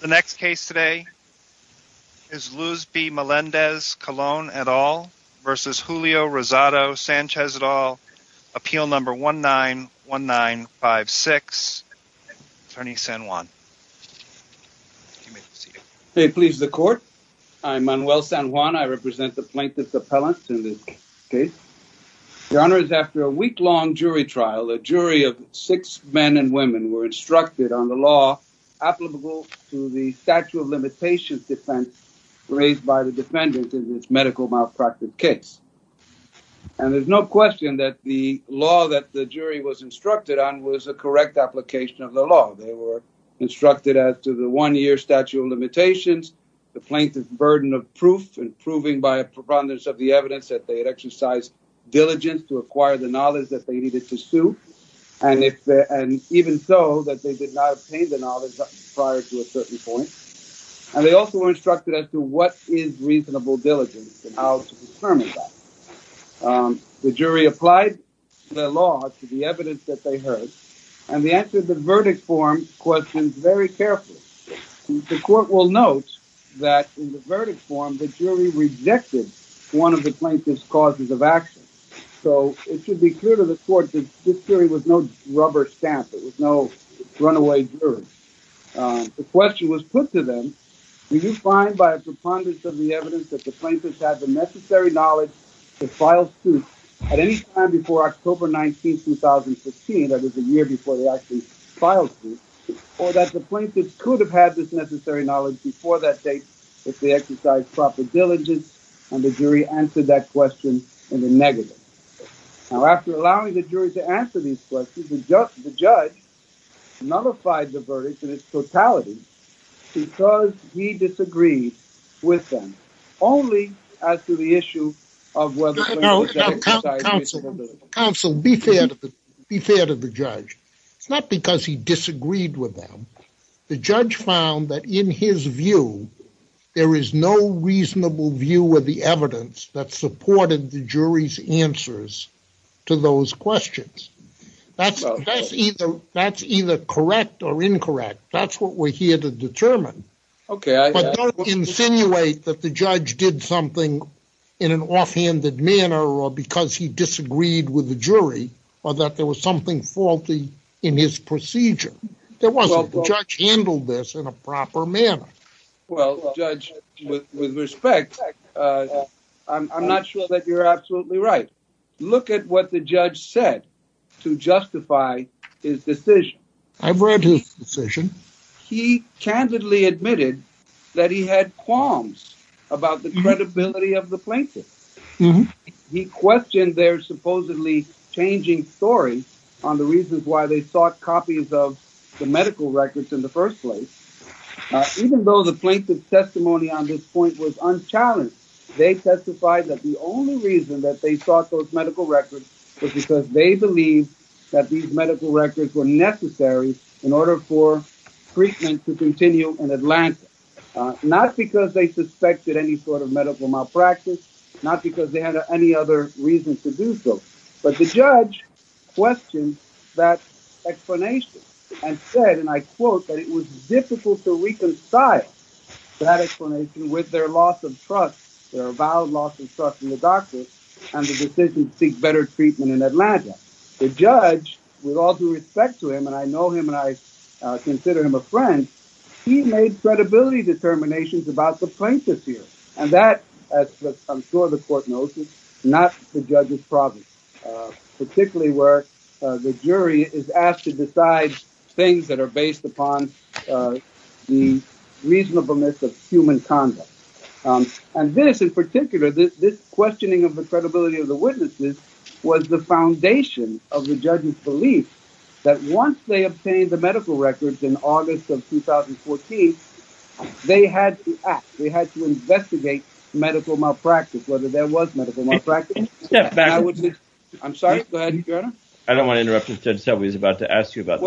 The next case today is Luz B. Melendez-Colon et al. v. Julio Rosado Sanchez et al. Appeal number 191956. Attorney San Juan. Hey, please the court. I'm Manuel San Juan. I represent the plaintiff's appellant in this case. Your honor, after a week-long jury trial, a jury of six men and women were instructed on the law applicable to the statute of limitations defense raised by the defendant in this medical malpractice case. And there's no question that the law that the jury was instructed on was a correct application of the law. They were instructed as to the one-year statute of limitations, the plaintiff's burden of proof, and proving by a preponderance of the evidence that they had exercised diligence to acquire the knowledge that they needed to sue. And even so, that they did not obtain the knowledge prior to a certain point. And they also were instructed as to what is reasonable diligence and how to determine that. The jury applied the law to the evidence that they heard, and the answer to the verdict form questions very carefully. The court will note that in the verdict form, the jury rejected one of the plaintiff's causes of action. So it should be clear to the court that this jury was no rubber stamp. It was no runaway jury. The question was put to them, did you find by a preponderance of the evidence that the plaintiff had the necessary knowledge to file suit at any time before October 19, 2015, that is a year before they actually filed suit, or that the plaintiff could have had this necessary knowledge before that date if they exercised proper diligence, and the jury answered that question in the negative. Now, after allowing the jury to answer these questions, the judge nullified the verdict in its totality because he disagreed with them, only as to the issue of whether the plaintiff exercised diligence. Counsel, be fair to the judge. It's not because he disagreed with them. The judge found that in his view, there is no reasonable view of the evidence that supported the jury's answers to those questions. That's either correct or incorrect. That's what we're here to determine. But don't insinuate that the judge did something in an offhanded manner or because he disagreed with the jury, or that there was something faulty in his procedure. There wasn't. The judge handled this in a proper manner. Well, Judge, with respect, I'm not sure that you're absolutely right. Look at what the judge said to justify his decision. I've read his decision. He candidly admitted that he had qualms about the credibility of the plaintiff. He questioned their supposedly changing story on the reasons why they sought copies of the medical records in the first place. Even though the plaintiff's testimony on this point was unchallenged, they testified that the only reason that they sought those medical records was because they believed that these medical records were necessary in order for treatment to continue in Atlanta. Not because they suspected any sort of medical malpractice, not because they had any other reason to do so. But the judge questioned that explanation and said, I quote, that it was difficult to reconcile that explanation with their loss of trust, their avowed loss of trust in the doctors and the decision to seek better treatment in Atlanta. The judge, with all due respect to him, and I know him and I consider him a friend, he made credibility determinations about the plaintiff here. And that, as I'm sure the court knows, is not the judge's problem, particularly where the jury is asked to decide things that are based upon the reasonableness of human conduct. And this in particular, this questioning of the credibility of the witnesses was the foundation of the judge's belief that once they obtained the medical records in August of 2014, they had to act, they had to investigate medical malpractice, whether there was medical malpractice. I'm sorry, go ahead, Your Honor. I don't want to interrupt you, Judge Selvey is about to ask you about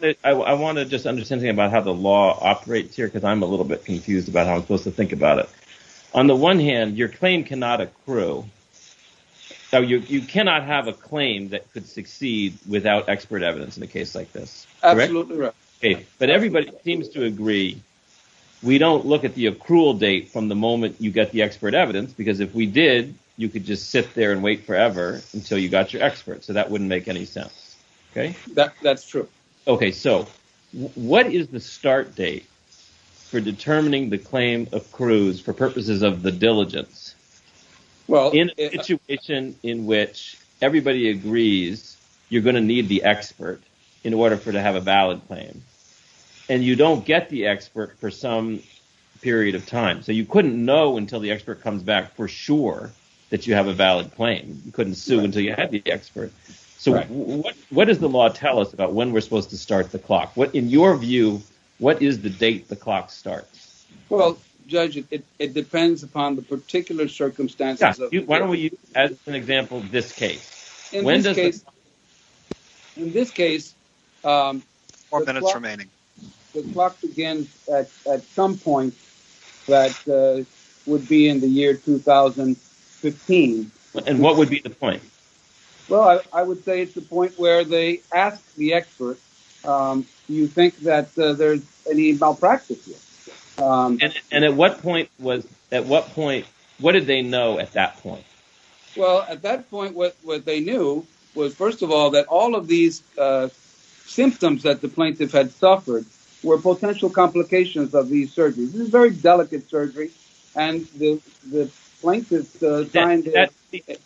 this. I want to just understand about how the law operates here, because I'm a little bit confused about how I'm supposed to think about it. On the one hand, your claim cannot accrue. So you cannot have a claim that could succeed without expert evidence in a case like this. But everybody seems to agree. We don't look at the accrual date from the moment you get the expert. So that wouldn't make any sense. Okay, that's true. Okay. So what is the start date for determining the claim accrues for purposes of the diligence? Well, in a situation in which everybody agrees, you're going to need the expert in order for to have a valid claim. And you don't get the expert for some period of time. So you couldn't know until the expert comes back for sure that you have a valid claim. You couldn't sue until you had the expert. So what does the law tell us about when we're supposed to start the clock? In your view, what is the date the clock starts? Well, Judge, it depends upon the particular circumstances. Why don't we use, as an example, this case? In this case, the clock begins at some point that would be in the year 2015. And what would be the point? Well, I would say it's the point where they ask the expert, do you think that there's any malpractice? And at what point what did they know at that point? Well, at that point, what they knew was, first of all, that all these symptoms that the plaintiff had suffered were potential complications of these surgeries. This is very delicate surgery. And the plaintiff signed it.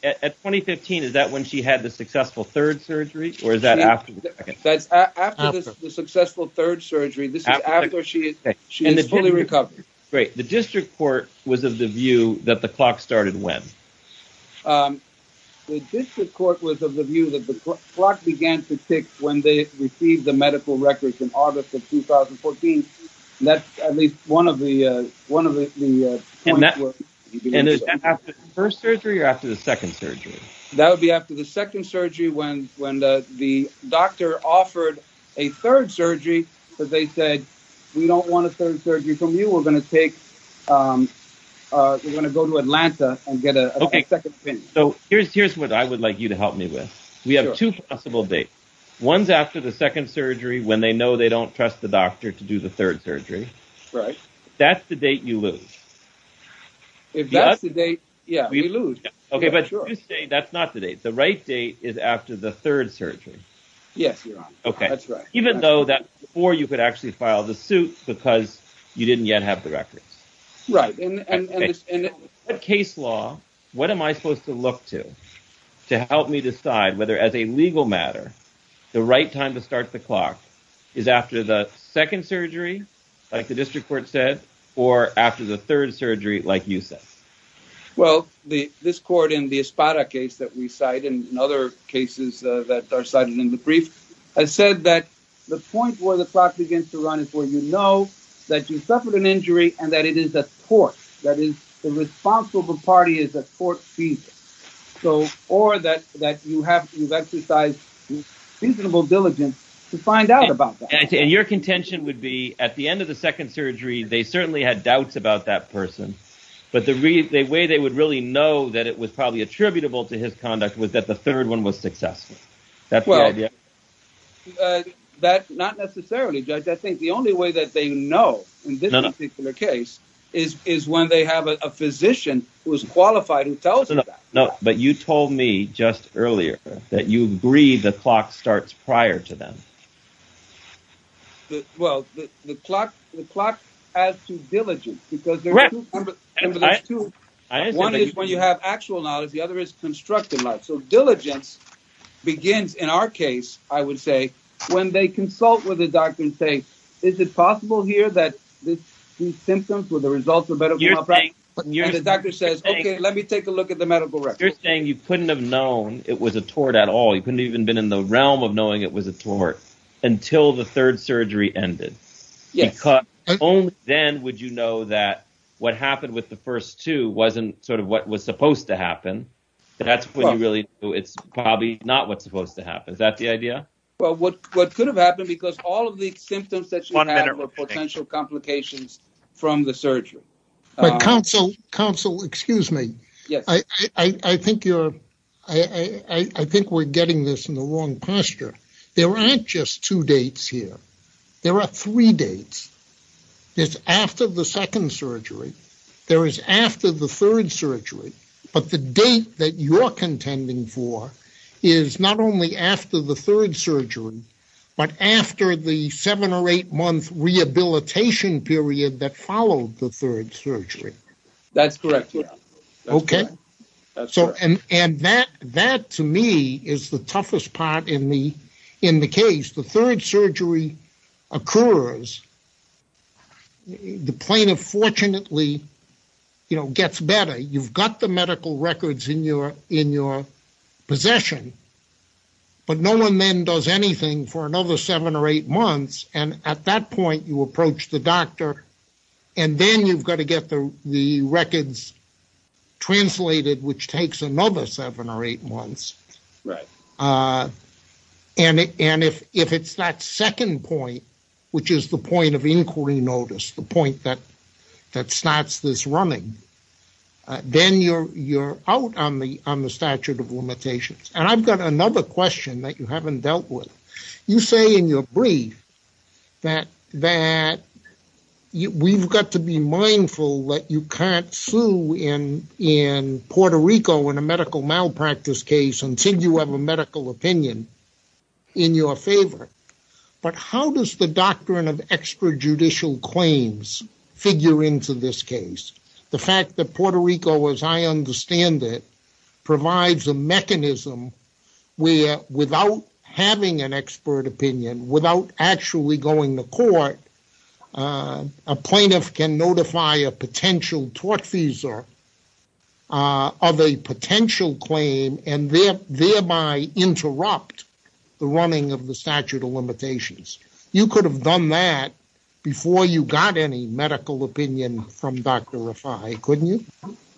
At 2015, is that when she had the successful third surgery? Or is that after the second? That's after the successful third surgery. This is after she is fully recovered. Great. The district court was of the view that the clock began to tick when they received the medical records in August of 2014. That's at least one of the points. And is that after the first surgery or after the second surgery? That would be after the second surgery when the doctor offered a third surgery because they said, we don't want a third surgery from you. We're going to go to Atlanta and get a second So here's what I would like you to help me with. We have two possible dates. One's after the second surgery when they know they don't trust the doctor to do the third surgery. Right. That's the date you lose. If that's the date, yeah, we lose. Okay, but you say that's not the date. The right date is after the third surgery. Yes, you're right. Okay. That's right. Even though that before you could actually file the suit because you didn't yet have the records. Right. And in that case law, what am I supposed to look to, to help me decide whether as a legal matter, the right time to start the clock is after the second surgery, like the district court said, or after the third surgery, like you said? Well, this court in the Espada case that we cite, and in other cases that are cited in the brief, has said that the point where the clock begins to run is where you know that you suffered an injury and that it is a tort. That is, the responsible party is a tort defendant. So, or that, that you have, you've exercised reasonable diligence to find out about that. And your contention would be at the end of the second surgery, they certainly had doubts about that person, but the way they would really know that it was probably attributable to his conduct was that the third one was successful. That's the only way that they know in this particular case is, is when they have a physician who is qualified who tells them that. No, but you told me just earlier that you agreed the clock starts prior to them. Well, the clock, the clock adds to diligence because there's two, one is when you have actual knowledge, the other is constructive knowledge. So diligence begins in our case, I would say, when they consult with the doctor and say, is it possible here that these symptoms were the results of medical malpractice? And the doctor says, okay, let me take a look at the medical records. You're saying you couldn't have known it was a tort at all. You couldn't even been in the realm of knowing it was a tort until the third surgery ended. Yes. Because only then would you know that what happened with the first two wasn't sort of what was supposed to Well, what, what could have happened because all of the symptoms that you have are potential complications from the surgery. Counsel, counsel, excuse me. I think you're, I think we're getting this in the wrong posture. There aren't just two dates here. There are three dates. It's after the second surgery. There is after the third surgery, but the date that you're contending for is not only after the third surgery, but after the seven or eight month rehabilitation period that followed the third surgery. That's correct. Okay. So, and, and that, that to me is the toughest part in the, in the case, the third surgery occurs. The plaintiff fortunately, you know, gets better. You've got the medical records in your, in your possession, but no one then does anything for another seven or eight months. And at that point you approach the doctor and then you've got to get the, the records translated, which takes another seven or eight months. Right. And, and if, if it's that second point, which is the point of inquiry notice the point that, that starts this morning, then you're, you're out on the, on the statute of limitations. And I've got another question that you haven't dealt with. You say in your brief that, that you, we've got to be mindful that you can't sue in, in Puerto Rico in a medical malpractice case until you have a medical opinion in your favor. But how does the doctrine of extrajudicial claims figure into this case? The fact that Puerto Rico, as I understand it, provides a mechanism where without having an expert opinion, without actually going to court, a plaintiff can notify a potential tort visa of a potential claim and thereby interrupt the running of the statute of limitations. You could have done that before you got any medical opinion from Dr. Rafai, couldn't you?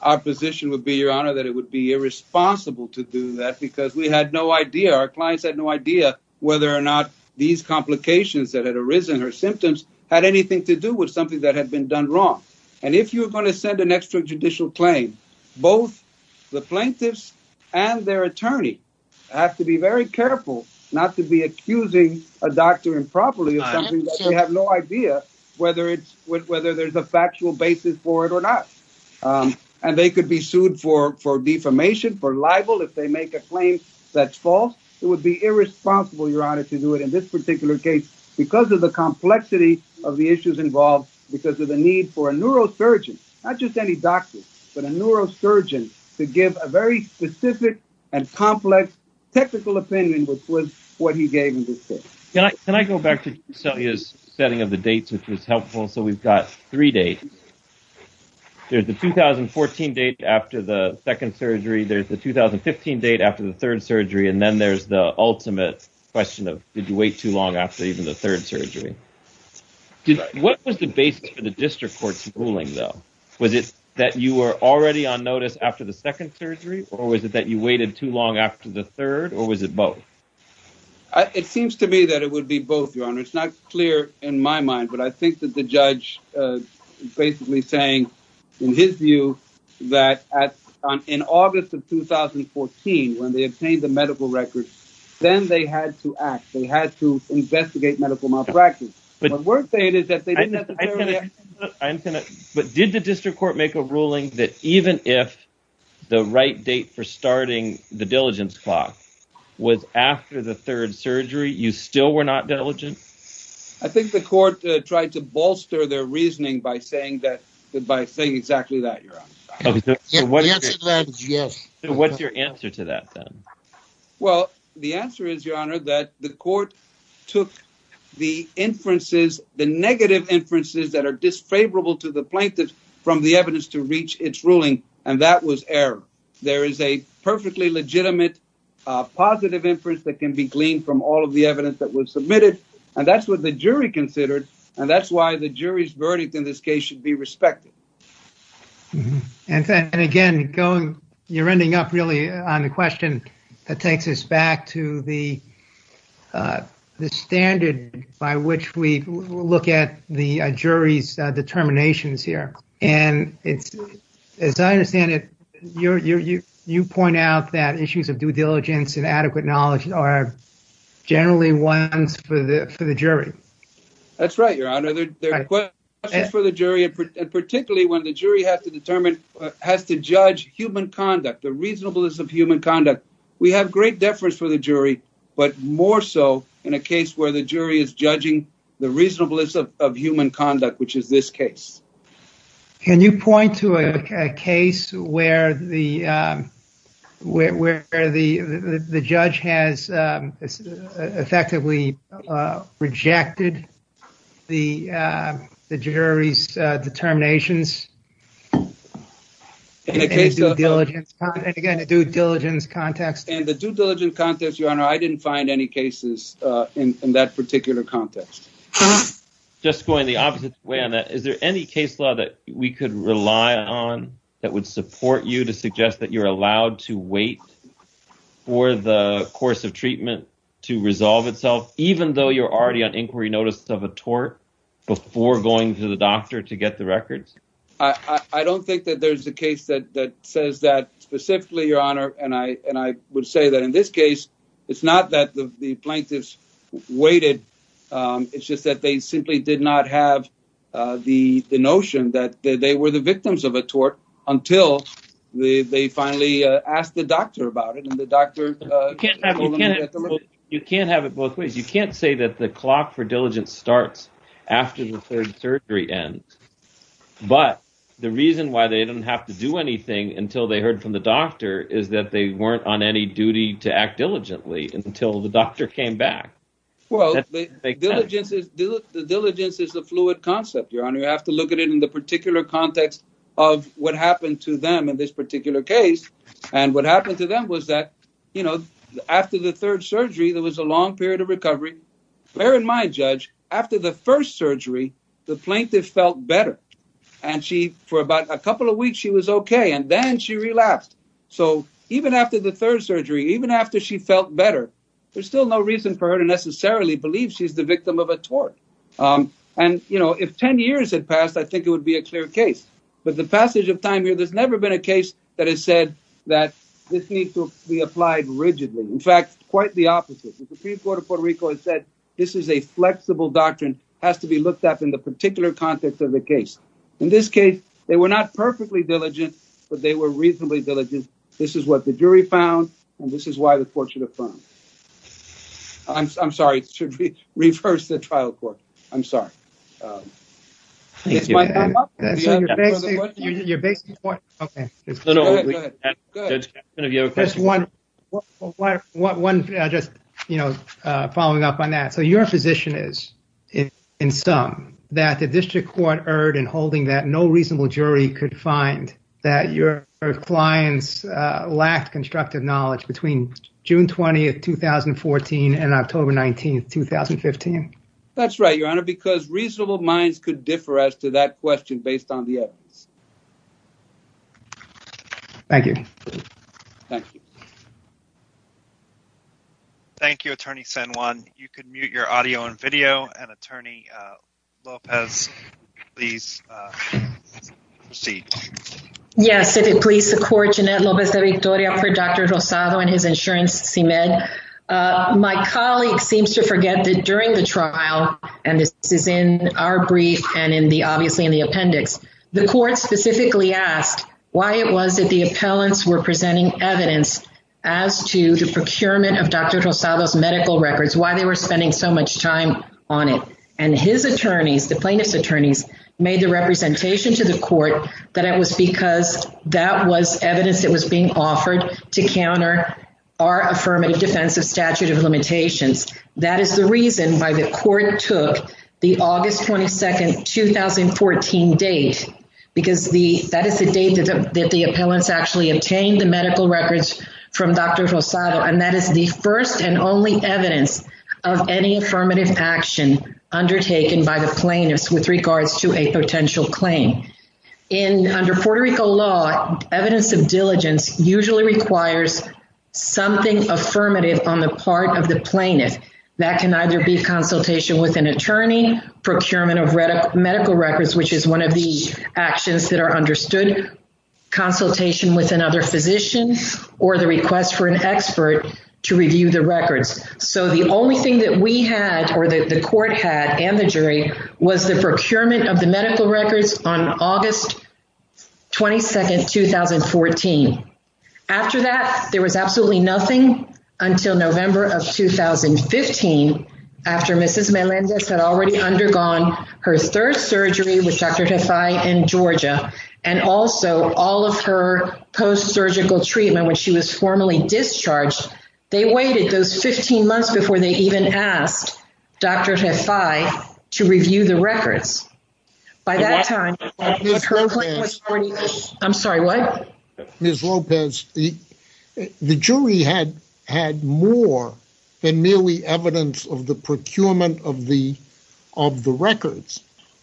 Our position would be, your honor, that it would be irresponsible to do that because we had no idea, our clients had no idea whether or not these complications that had arisen, her symptoms, had anything to do with something that had been done wrong. And if you're going to send an extrajudicial claim, both the plaintiffs and their attorney have to be very careful not to be accusing a doctor improperly of something that they have no idea whether it's, whether there's a factual basis for it or not. And they could be sued for defamation, for libel, if they make a claim that's false. It would be irresponsible, your honor, to do it in this particular case because of the complexity of the issues involved, because of the need for a neurosurgeon, not just any doctor, but a neurosurgeon to give a very specific and complex technical opinion, which was what he gave in this case. Can I go back to Celia's setting of the dates, which was helpful? So we've got three dates. There's the 2014 date after the second surgery, there's the 2015 date after the third surgery, and then there's the ultimate question of, did you wait too long after even the third surgery? What was the basis for the district court's ruling though? Was it that you were already on notice after the second surgery, or was it that you waited too long after the third, or was it both? It seems to me that it would be both, your honor. It's not clear in my mind, but I think that the judge is basically saying in his view that in August of 2014, when they obtained the medical records, then they had to act. They had to investigate medical practice. But did the district court make a ruling that even if the right date for starting the diligence clock was after the third surgery, you still were not diligent? I think the court tried to bolster their reasoning by saying exactly that, your honor. What's your answer to that then? Well, the answer is, your honor, that the court took the negative inferences that are disfavorable to the plaintiffs from the evidence to reach its ruling, and that was error. There is a perfectly legitimate positive inference that can be gleaned from all of the evidence that was submitted, and that's what the jury considered, and that's why the jury's verdict in this case should be respected. And again, you're ending up really on the question that takes us back to the standard by which we look at the jury's determinations here. And as I understand it, you point out that issues of due diligence and adequate knowledge are generally ones for the jury. That's right, your honor. There are questions for the jury, and particularly when the jury has to judge human conduct, the reasonableness of human conduct, we have great deference for the jury, but more so in a case where the jury is judging the reasonableness of human conduct, which is this case. Can you point to a case where the judge has effectively rejected the jury's determinations? In a case of due diligence, and again, a due diligence context, and the due diligence context, your honor, I didn't find any cases in that particular context. Just going the opposite way on that, is there any case law that we could rely on that would support you to suggest that you're allowed to wait for the course of treatment to resolve itself, even though you're already on trial? I don't think that there's a case that says that specifically, your honor, and I would say that in this case, it's not that the plaintiffs waited, it's just that they simply did not have the notion that they were the victims of a tort until they finally asked the doctor about it. You can't have it both ways. You can't say that the clock for diligence starts after the third surgery ends, but the reason why they didn't have to do anything until they heard from the doctor is that they weren't on any duty to act diligently until the doctor came back. The diligence is a fluid concept, your honor. You have to look at it in the particular context of what happened to them in this particular case, and what happened to them was that, you know, after the third surgery, there was a long period of recovery. Bear in mind, judge, after the first surgery, the plaintiff felt better, and she, for about a couple of weeks, she was okay, and then she relapsed. So even after the third surgery, even after she felt better, there's still no reason for her to necessarily believe she's the victim of a tort. And, you know, if 10 years had passed, I think it would be a clear case, but the passage of time here, there's never been a case that has said that this needs to be applied rigidly. In fact, quite the opposite. The Supreme Court of Puerto Rico has said, this is a flexible doctrine, has to be looked at in the particular context of the case. In this case, they were not perfectly diligent, but they were reasonably diligent. This is what the jury found, and this is why the court should affirm. I'm sorry, reverse the trial court. I'm sorry. Um, thank you. One, just, you know, uh, following up on that. So your position is, in sum, that the district court erred in holding that no reasonable jury could find that your clients, uh, lacked constructive knowledge between June 20th, 2014 and October 19th, 2015? That's right, Your Honor, because reasonable minds could differ as to that question, based on the evidence. Thank you. Thank you. Thank you, Attorney San Juan. You can mute your audio and video and Attorney, uh, Lopez, please, uh, proceed. Yes, if it please the court, Jeanette Lopez de Victoria for Dr. Rosado and his insurance, uh, my colleague seems to forget that during the trial, and this is in our brief and in the, obviously, in the appendix, the court specifically asked why it was that the appellants were presenting evidence as to the procurement of Dr. Rosado's medical records, why they were spending so much time on it. And his attorneys, the plaintiff's attorneys, made the representation to the court that it was because that was evidence that was being offered to counter our affirmative defensive statute of limitations. That is the reason why the court took the August 22nd, 2014 date, because the, that is the date that the, that the appellants actually obtained the medical records from Dr. Rosado. And that is the first and only evidence of any affirmative action undertaken by the plaintiffs with regards to a potential claim. In, under Puerto Rico law, evidence of diligence usually requires something affirmative on the part of the plaintiff. That can either be consultation with an attorney, procurement of medical records, which is one of the actions that are understood, consultation with another physician, or the request for an expert to review the records. So the only thing that we had, or that the court had, and the jury, was the procurement of the medical records on August 22nd, 2014. After that, there was absolutely nothing until November of 2015, after Mrs. Melendez had already undergone her third surgery with Dr. Tafai in Georgia, and also all of her post-surgical treatment when she was formally discharged. They waited those 15 months before they even asked Dr. Tafai to review the records. By that time, her claim was already, I'm sorry, what? Ms. Lopez, the, the jury had, had more than merely evidence of the procurement of the, of the records.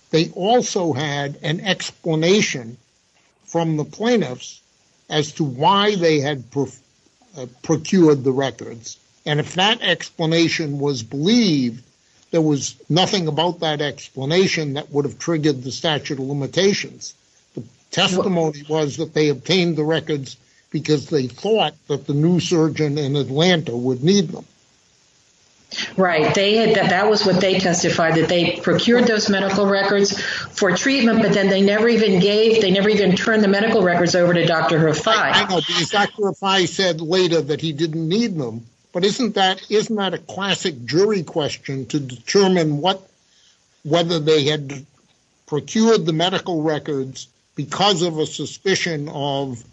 They also had an explanation from the plaintiffs as to why they had procured the records. And if that explanation was believed, there was nothing about that explanation that would have triggered the statute of limitations. The testimony was that they obtained the records because they thought that the new surgeon in Atlanta would need them. Right. They had, that was what they testified, that they procured those medical records for treatment, but then they never even gave, they never even turned the medical records over to Tafai. Hang on, Dr. Tafai said later that he didn't need them, but isn't that, isn't that a classic jury question to determine what, whether they had procured the medical records because of a suspicion of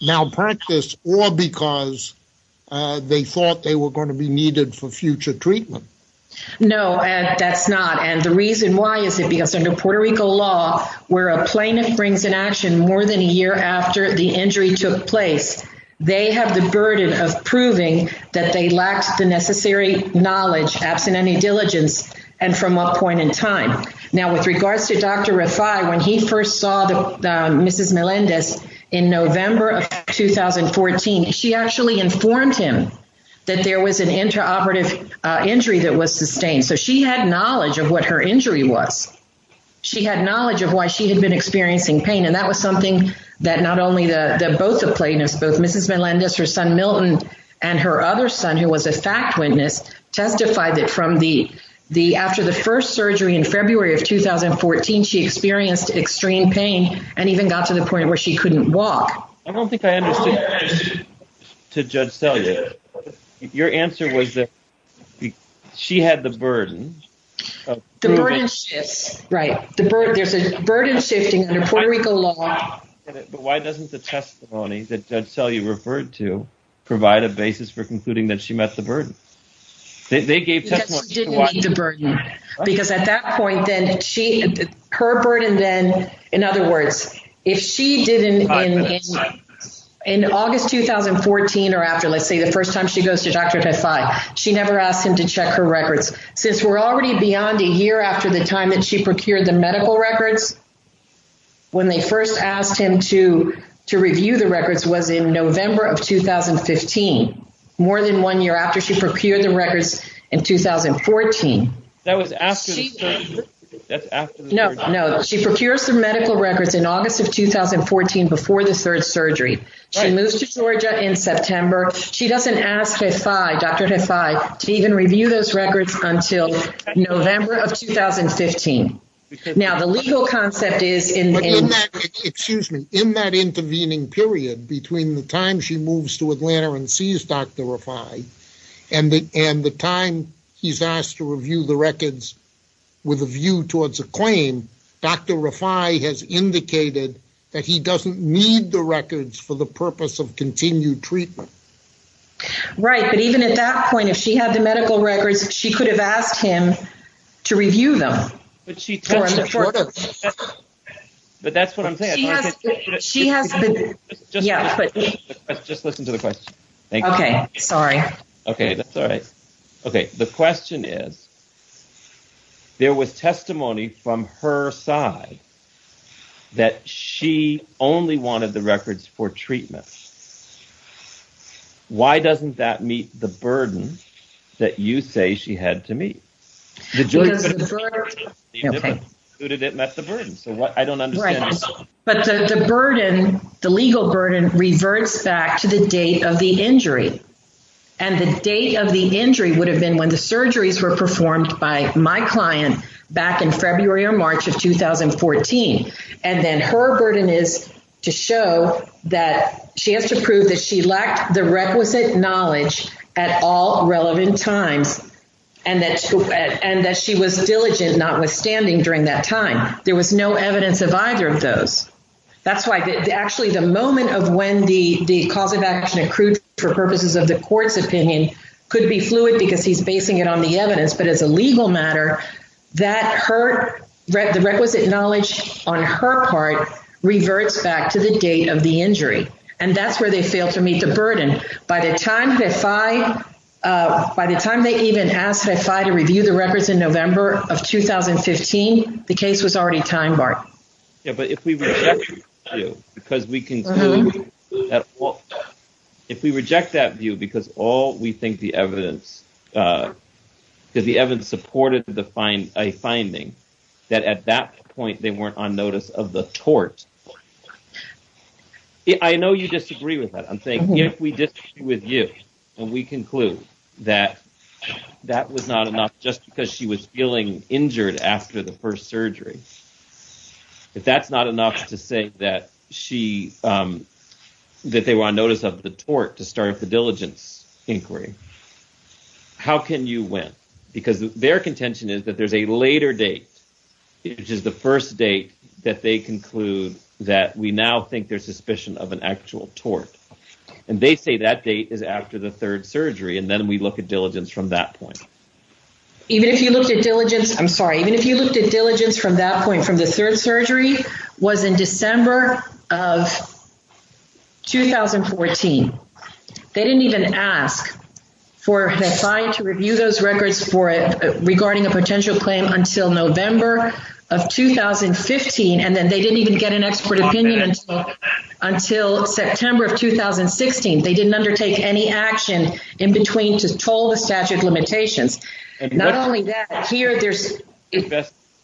malpractice or because they thought they were going to be needed for future treatment? No, that's not. And the reason why is it because under Puerto Rico law, where a plaintiff brings an action more than a year after the injury took place, they have the burden of proving that they lacked the necessary knowledge absent any diligence and from what point in time. Now, with regards to Dr. Rafai, when he first saw Mrs. Melendez in November of 2014, she actually informed him that there was an interoperative injury that she had knowledge of why she had been experiencing pain. And that was something that not only the, both the plaintiffs, both Mrs. Melendez, her son Milton, and her other son, who was a fact witness, testified that from the, the, after the first surgery in February of 2014, she experienced extreme pain and even got to the point where she couldn't walk. I don't think I understood, to judge Celia, your answer was that she had the burden. The burden shifts, right. The burden, there's a burden shifting under Puerto Rico law. But why doesn't the testimony that Judge Celia referred to provide a basis for concluding that she met the burden? They gave testimony. Because she didn't meet the burden. Because at that point, then she, her burden then, in other words, if she didn't, in August 2014, or after, let's say the first time she goes to Dr. Rafai, she never asked him to check her records. Since we're already beyond a year after the time that she procured the medical records, when they first asked him to, to review the records was in November of 2015, more than one year after she procured the records in 2014. That was after the surgery. That's after the surgery. No, no. She procures the medical records in August of 2014 before the third surgery. She moves to Georgia in September. She doesn't ask Rafai, Dr. Rafai, to even review those records until November of 2015. Now, the legal concept is in that, excuse me, in that intervening period, between the time she moves to Atlanta and sees Dr. Rafai, and the time he's asked to review the records with a view towards a claim, Dr. Rafai has indicated that he doesn't need the records for the purpose of continued treatment. Right. But even at that point, if she had the medical records, she could have asked him to review them. But that's what I'm saying. Just listen to the question. Okay. Sorry. Okay. That's all right. Okay. The question is, there was testimony from her side that she only wanted the records for treatment. Why doesn't that meet the burden that you say she had to meet? The burden, the legal burden reverts back to the date of the injury. And the date of the injury would have been when the surgeries were performed by my client back in February or March of 2014. And then her burden is to show that she has to prove that she was diligent, notwithstanding, during that time. There was no evidence of either of those. That's why, actually, the moment of when the cause of action accrued for purposes of the court's opinion could be fluid because he's basing it on the evidence. But as a legal matter, the requisite knowledge on her part reverts back to the date of the injury. And that's where they by the time they even asked FIFI to review the records in November of 2015, the case was already time-barred. Yeah. But if we reject that view because all we think the evidence supported a finding that at that point they weren't on notice of the tort. I know you disagree with that. I'm saying if we disagree with you and we conclude that that was not enough just because she was feeling injured after the first surgery, if that's not enough to say that she, that they were on notice of the tort to start the diligence inquiry, how can you win? Because their contention is that there's a later date, which is the first date that they conclude that we now think there's suspicion of an actual tort. And they say that date is after the third surgery. And then we look at diligence from that point. Even if you looked at diligence, I'm sorry, even if you looked at diligence from that point, from the third surgery was in December of 2014. They didn't even ask for FIFI to review those in November of 2015. And then they didn't even get an expert opinion until September of 2016. They didn't undertake any action in between to toll the statute of limitations. Not only that, here there's-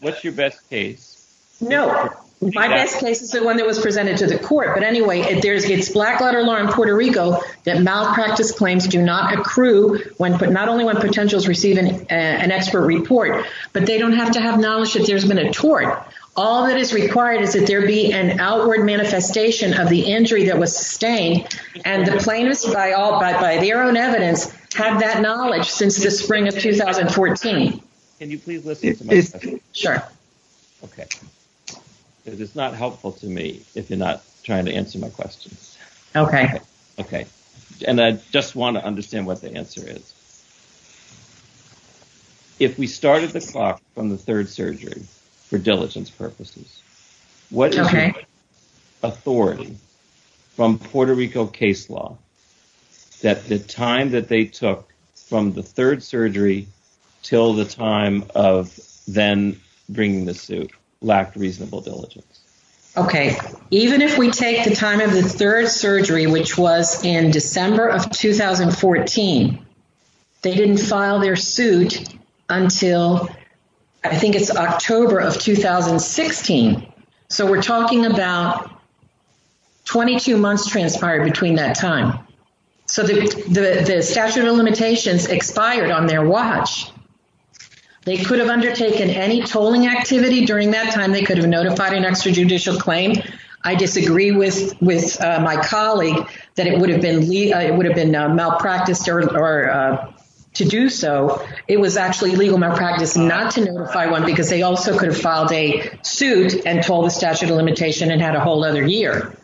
What's your best case? No. My best case is the one that was presented to the court. But anyway, it's black-letter law in Puerto Rico that malpractice claims do not accrue, not only when potentials receive an expert report, but they don't have to have knowledge that there's been a tort. All that is required is that there be an outward manifestation of the injury that was sustained. And the plaintiffs, by their own evidence, have that knowledge since the spring of 2014. Can you please listen to my question? Sure. Okay. It is not helpful to me if you're not trying to answer my questions. Okay. Okay. And I just want to understand what the answer is. If we started the clock from the third surgery for diligence purposes, what is your authority from Puerto Rico case law that the time that they took from the third surgery till the time of then bringing the suit lacked reasonable diligence? Okay. Even if we take the time of the third surgery, which was in December of 2014, they didn't file their suit until, I think it's October of 2016. So we're talking about 22 months transpired between that time. So the statute of limitations expired on their watch. They could have undertaken any tolling activity during that time. They could have notified an extrajudicial claim. I disagree with my colleague that it would have been malpracticed to do so. It was actually legal malpractice not to notify one because they also could have filed a suit and told the statute of limitation and had a whole other year.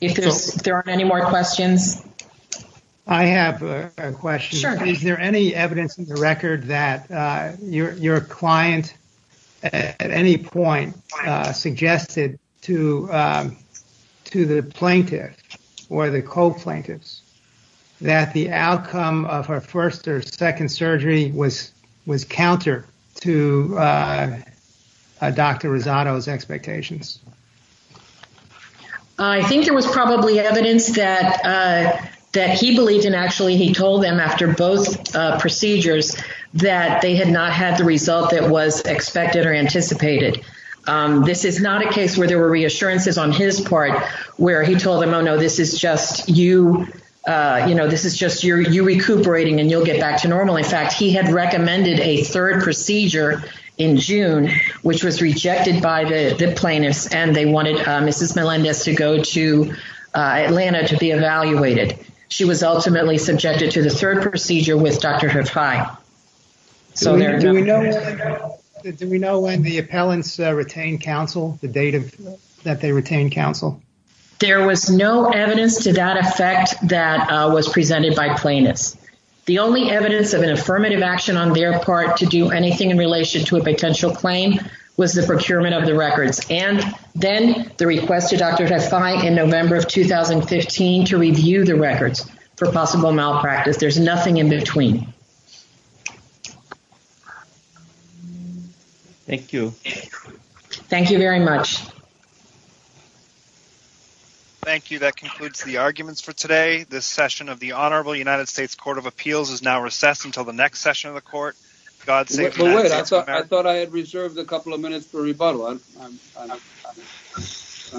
If there aren't any more questions. I have a question. Sure. Is there any evidence in the record that your client at any point suggested to the plaintiff or the co-plaintiffs that the outcome of her first or second surgery was counter to Dr. Rosado's expectations? I think there was probably evidence that he believed in. He told them after both procedures that they had not had the result that was expected or anticipated. This is not a case where there were reassurances on his part where he told them, oh, no, this is just you recuperating and you'll get back to normal. In fact, he had recommended a third procedure in June, which was rejected by the plaintiffs and they wanted Mrs. Melendez to go to Atlanta to be evaluated. She was ultimately subjected to the third procedure with Dr. Hathai. Do we know when the appellants retained counsel, the date that they retained counsel? There was no evidence to that effect that was presented by plaintiffs. The only evidence of an affirmative action on their part to do anything in relation to a potential claim was the procurement of the records and then the request to Dr. Hathai in November of 2015 to review the records for possible malpractice. There's nothing in between. Thank you. Thank you very much. Thank you. That concludes the arguments for today. This session of the Honorable United States Court of Appeals is now recessed until the next session of the court. I thought I had reserved a couple of minutes for rebuttal.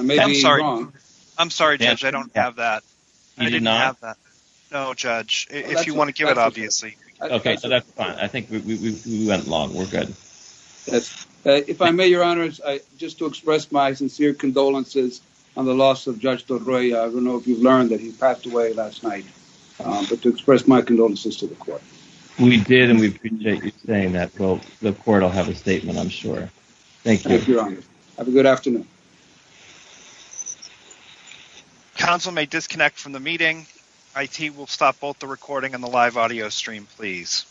Maybe I'm wrong. I'm sorry, Judge. I don't have that. I didn't have that. No, Judge. If you want to give it, obviously. Okay, so that's fine. I think we went long. We're good. If I may, Your Honor, just to express my sincere condolences on the loss of Judge Delroy. I don't know if you've learned that he passed away last night, but to express my condolences to the court. We did, and we appreciate you saying that. Well, the court will have a statement, I'm sure. Thank you, Your Honor. Have a good afternoon. Console may disconnect from the meeting. IT will stop both the recording and the live audio stream, please.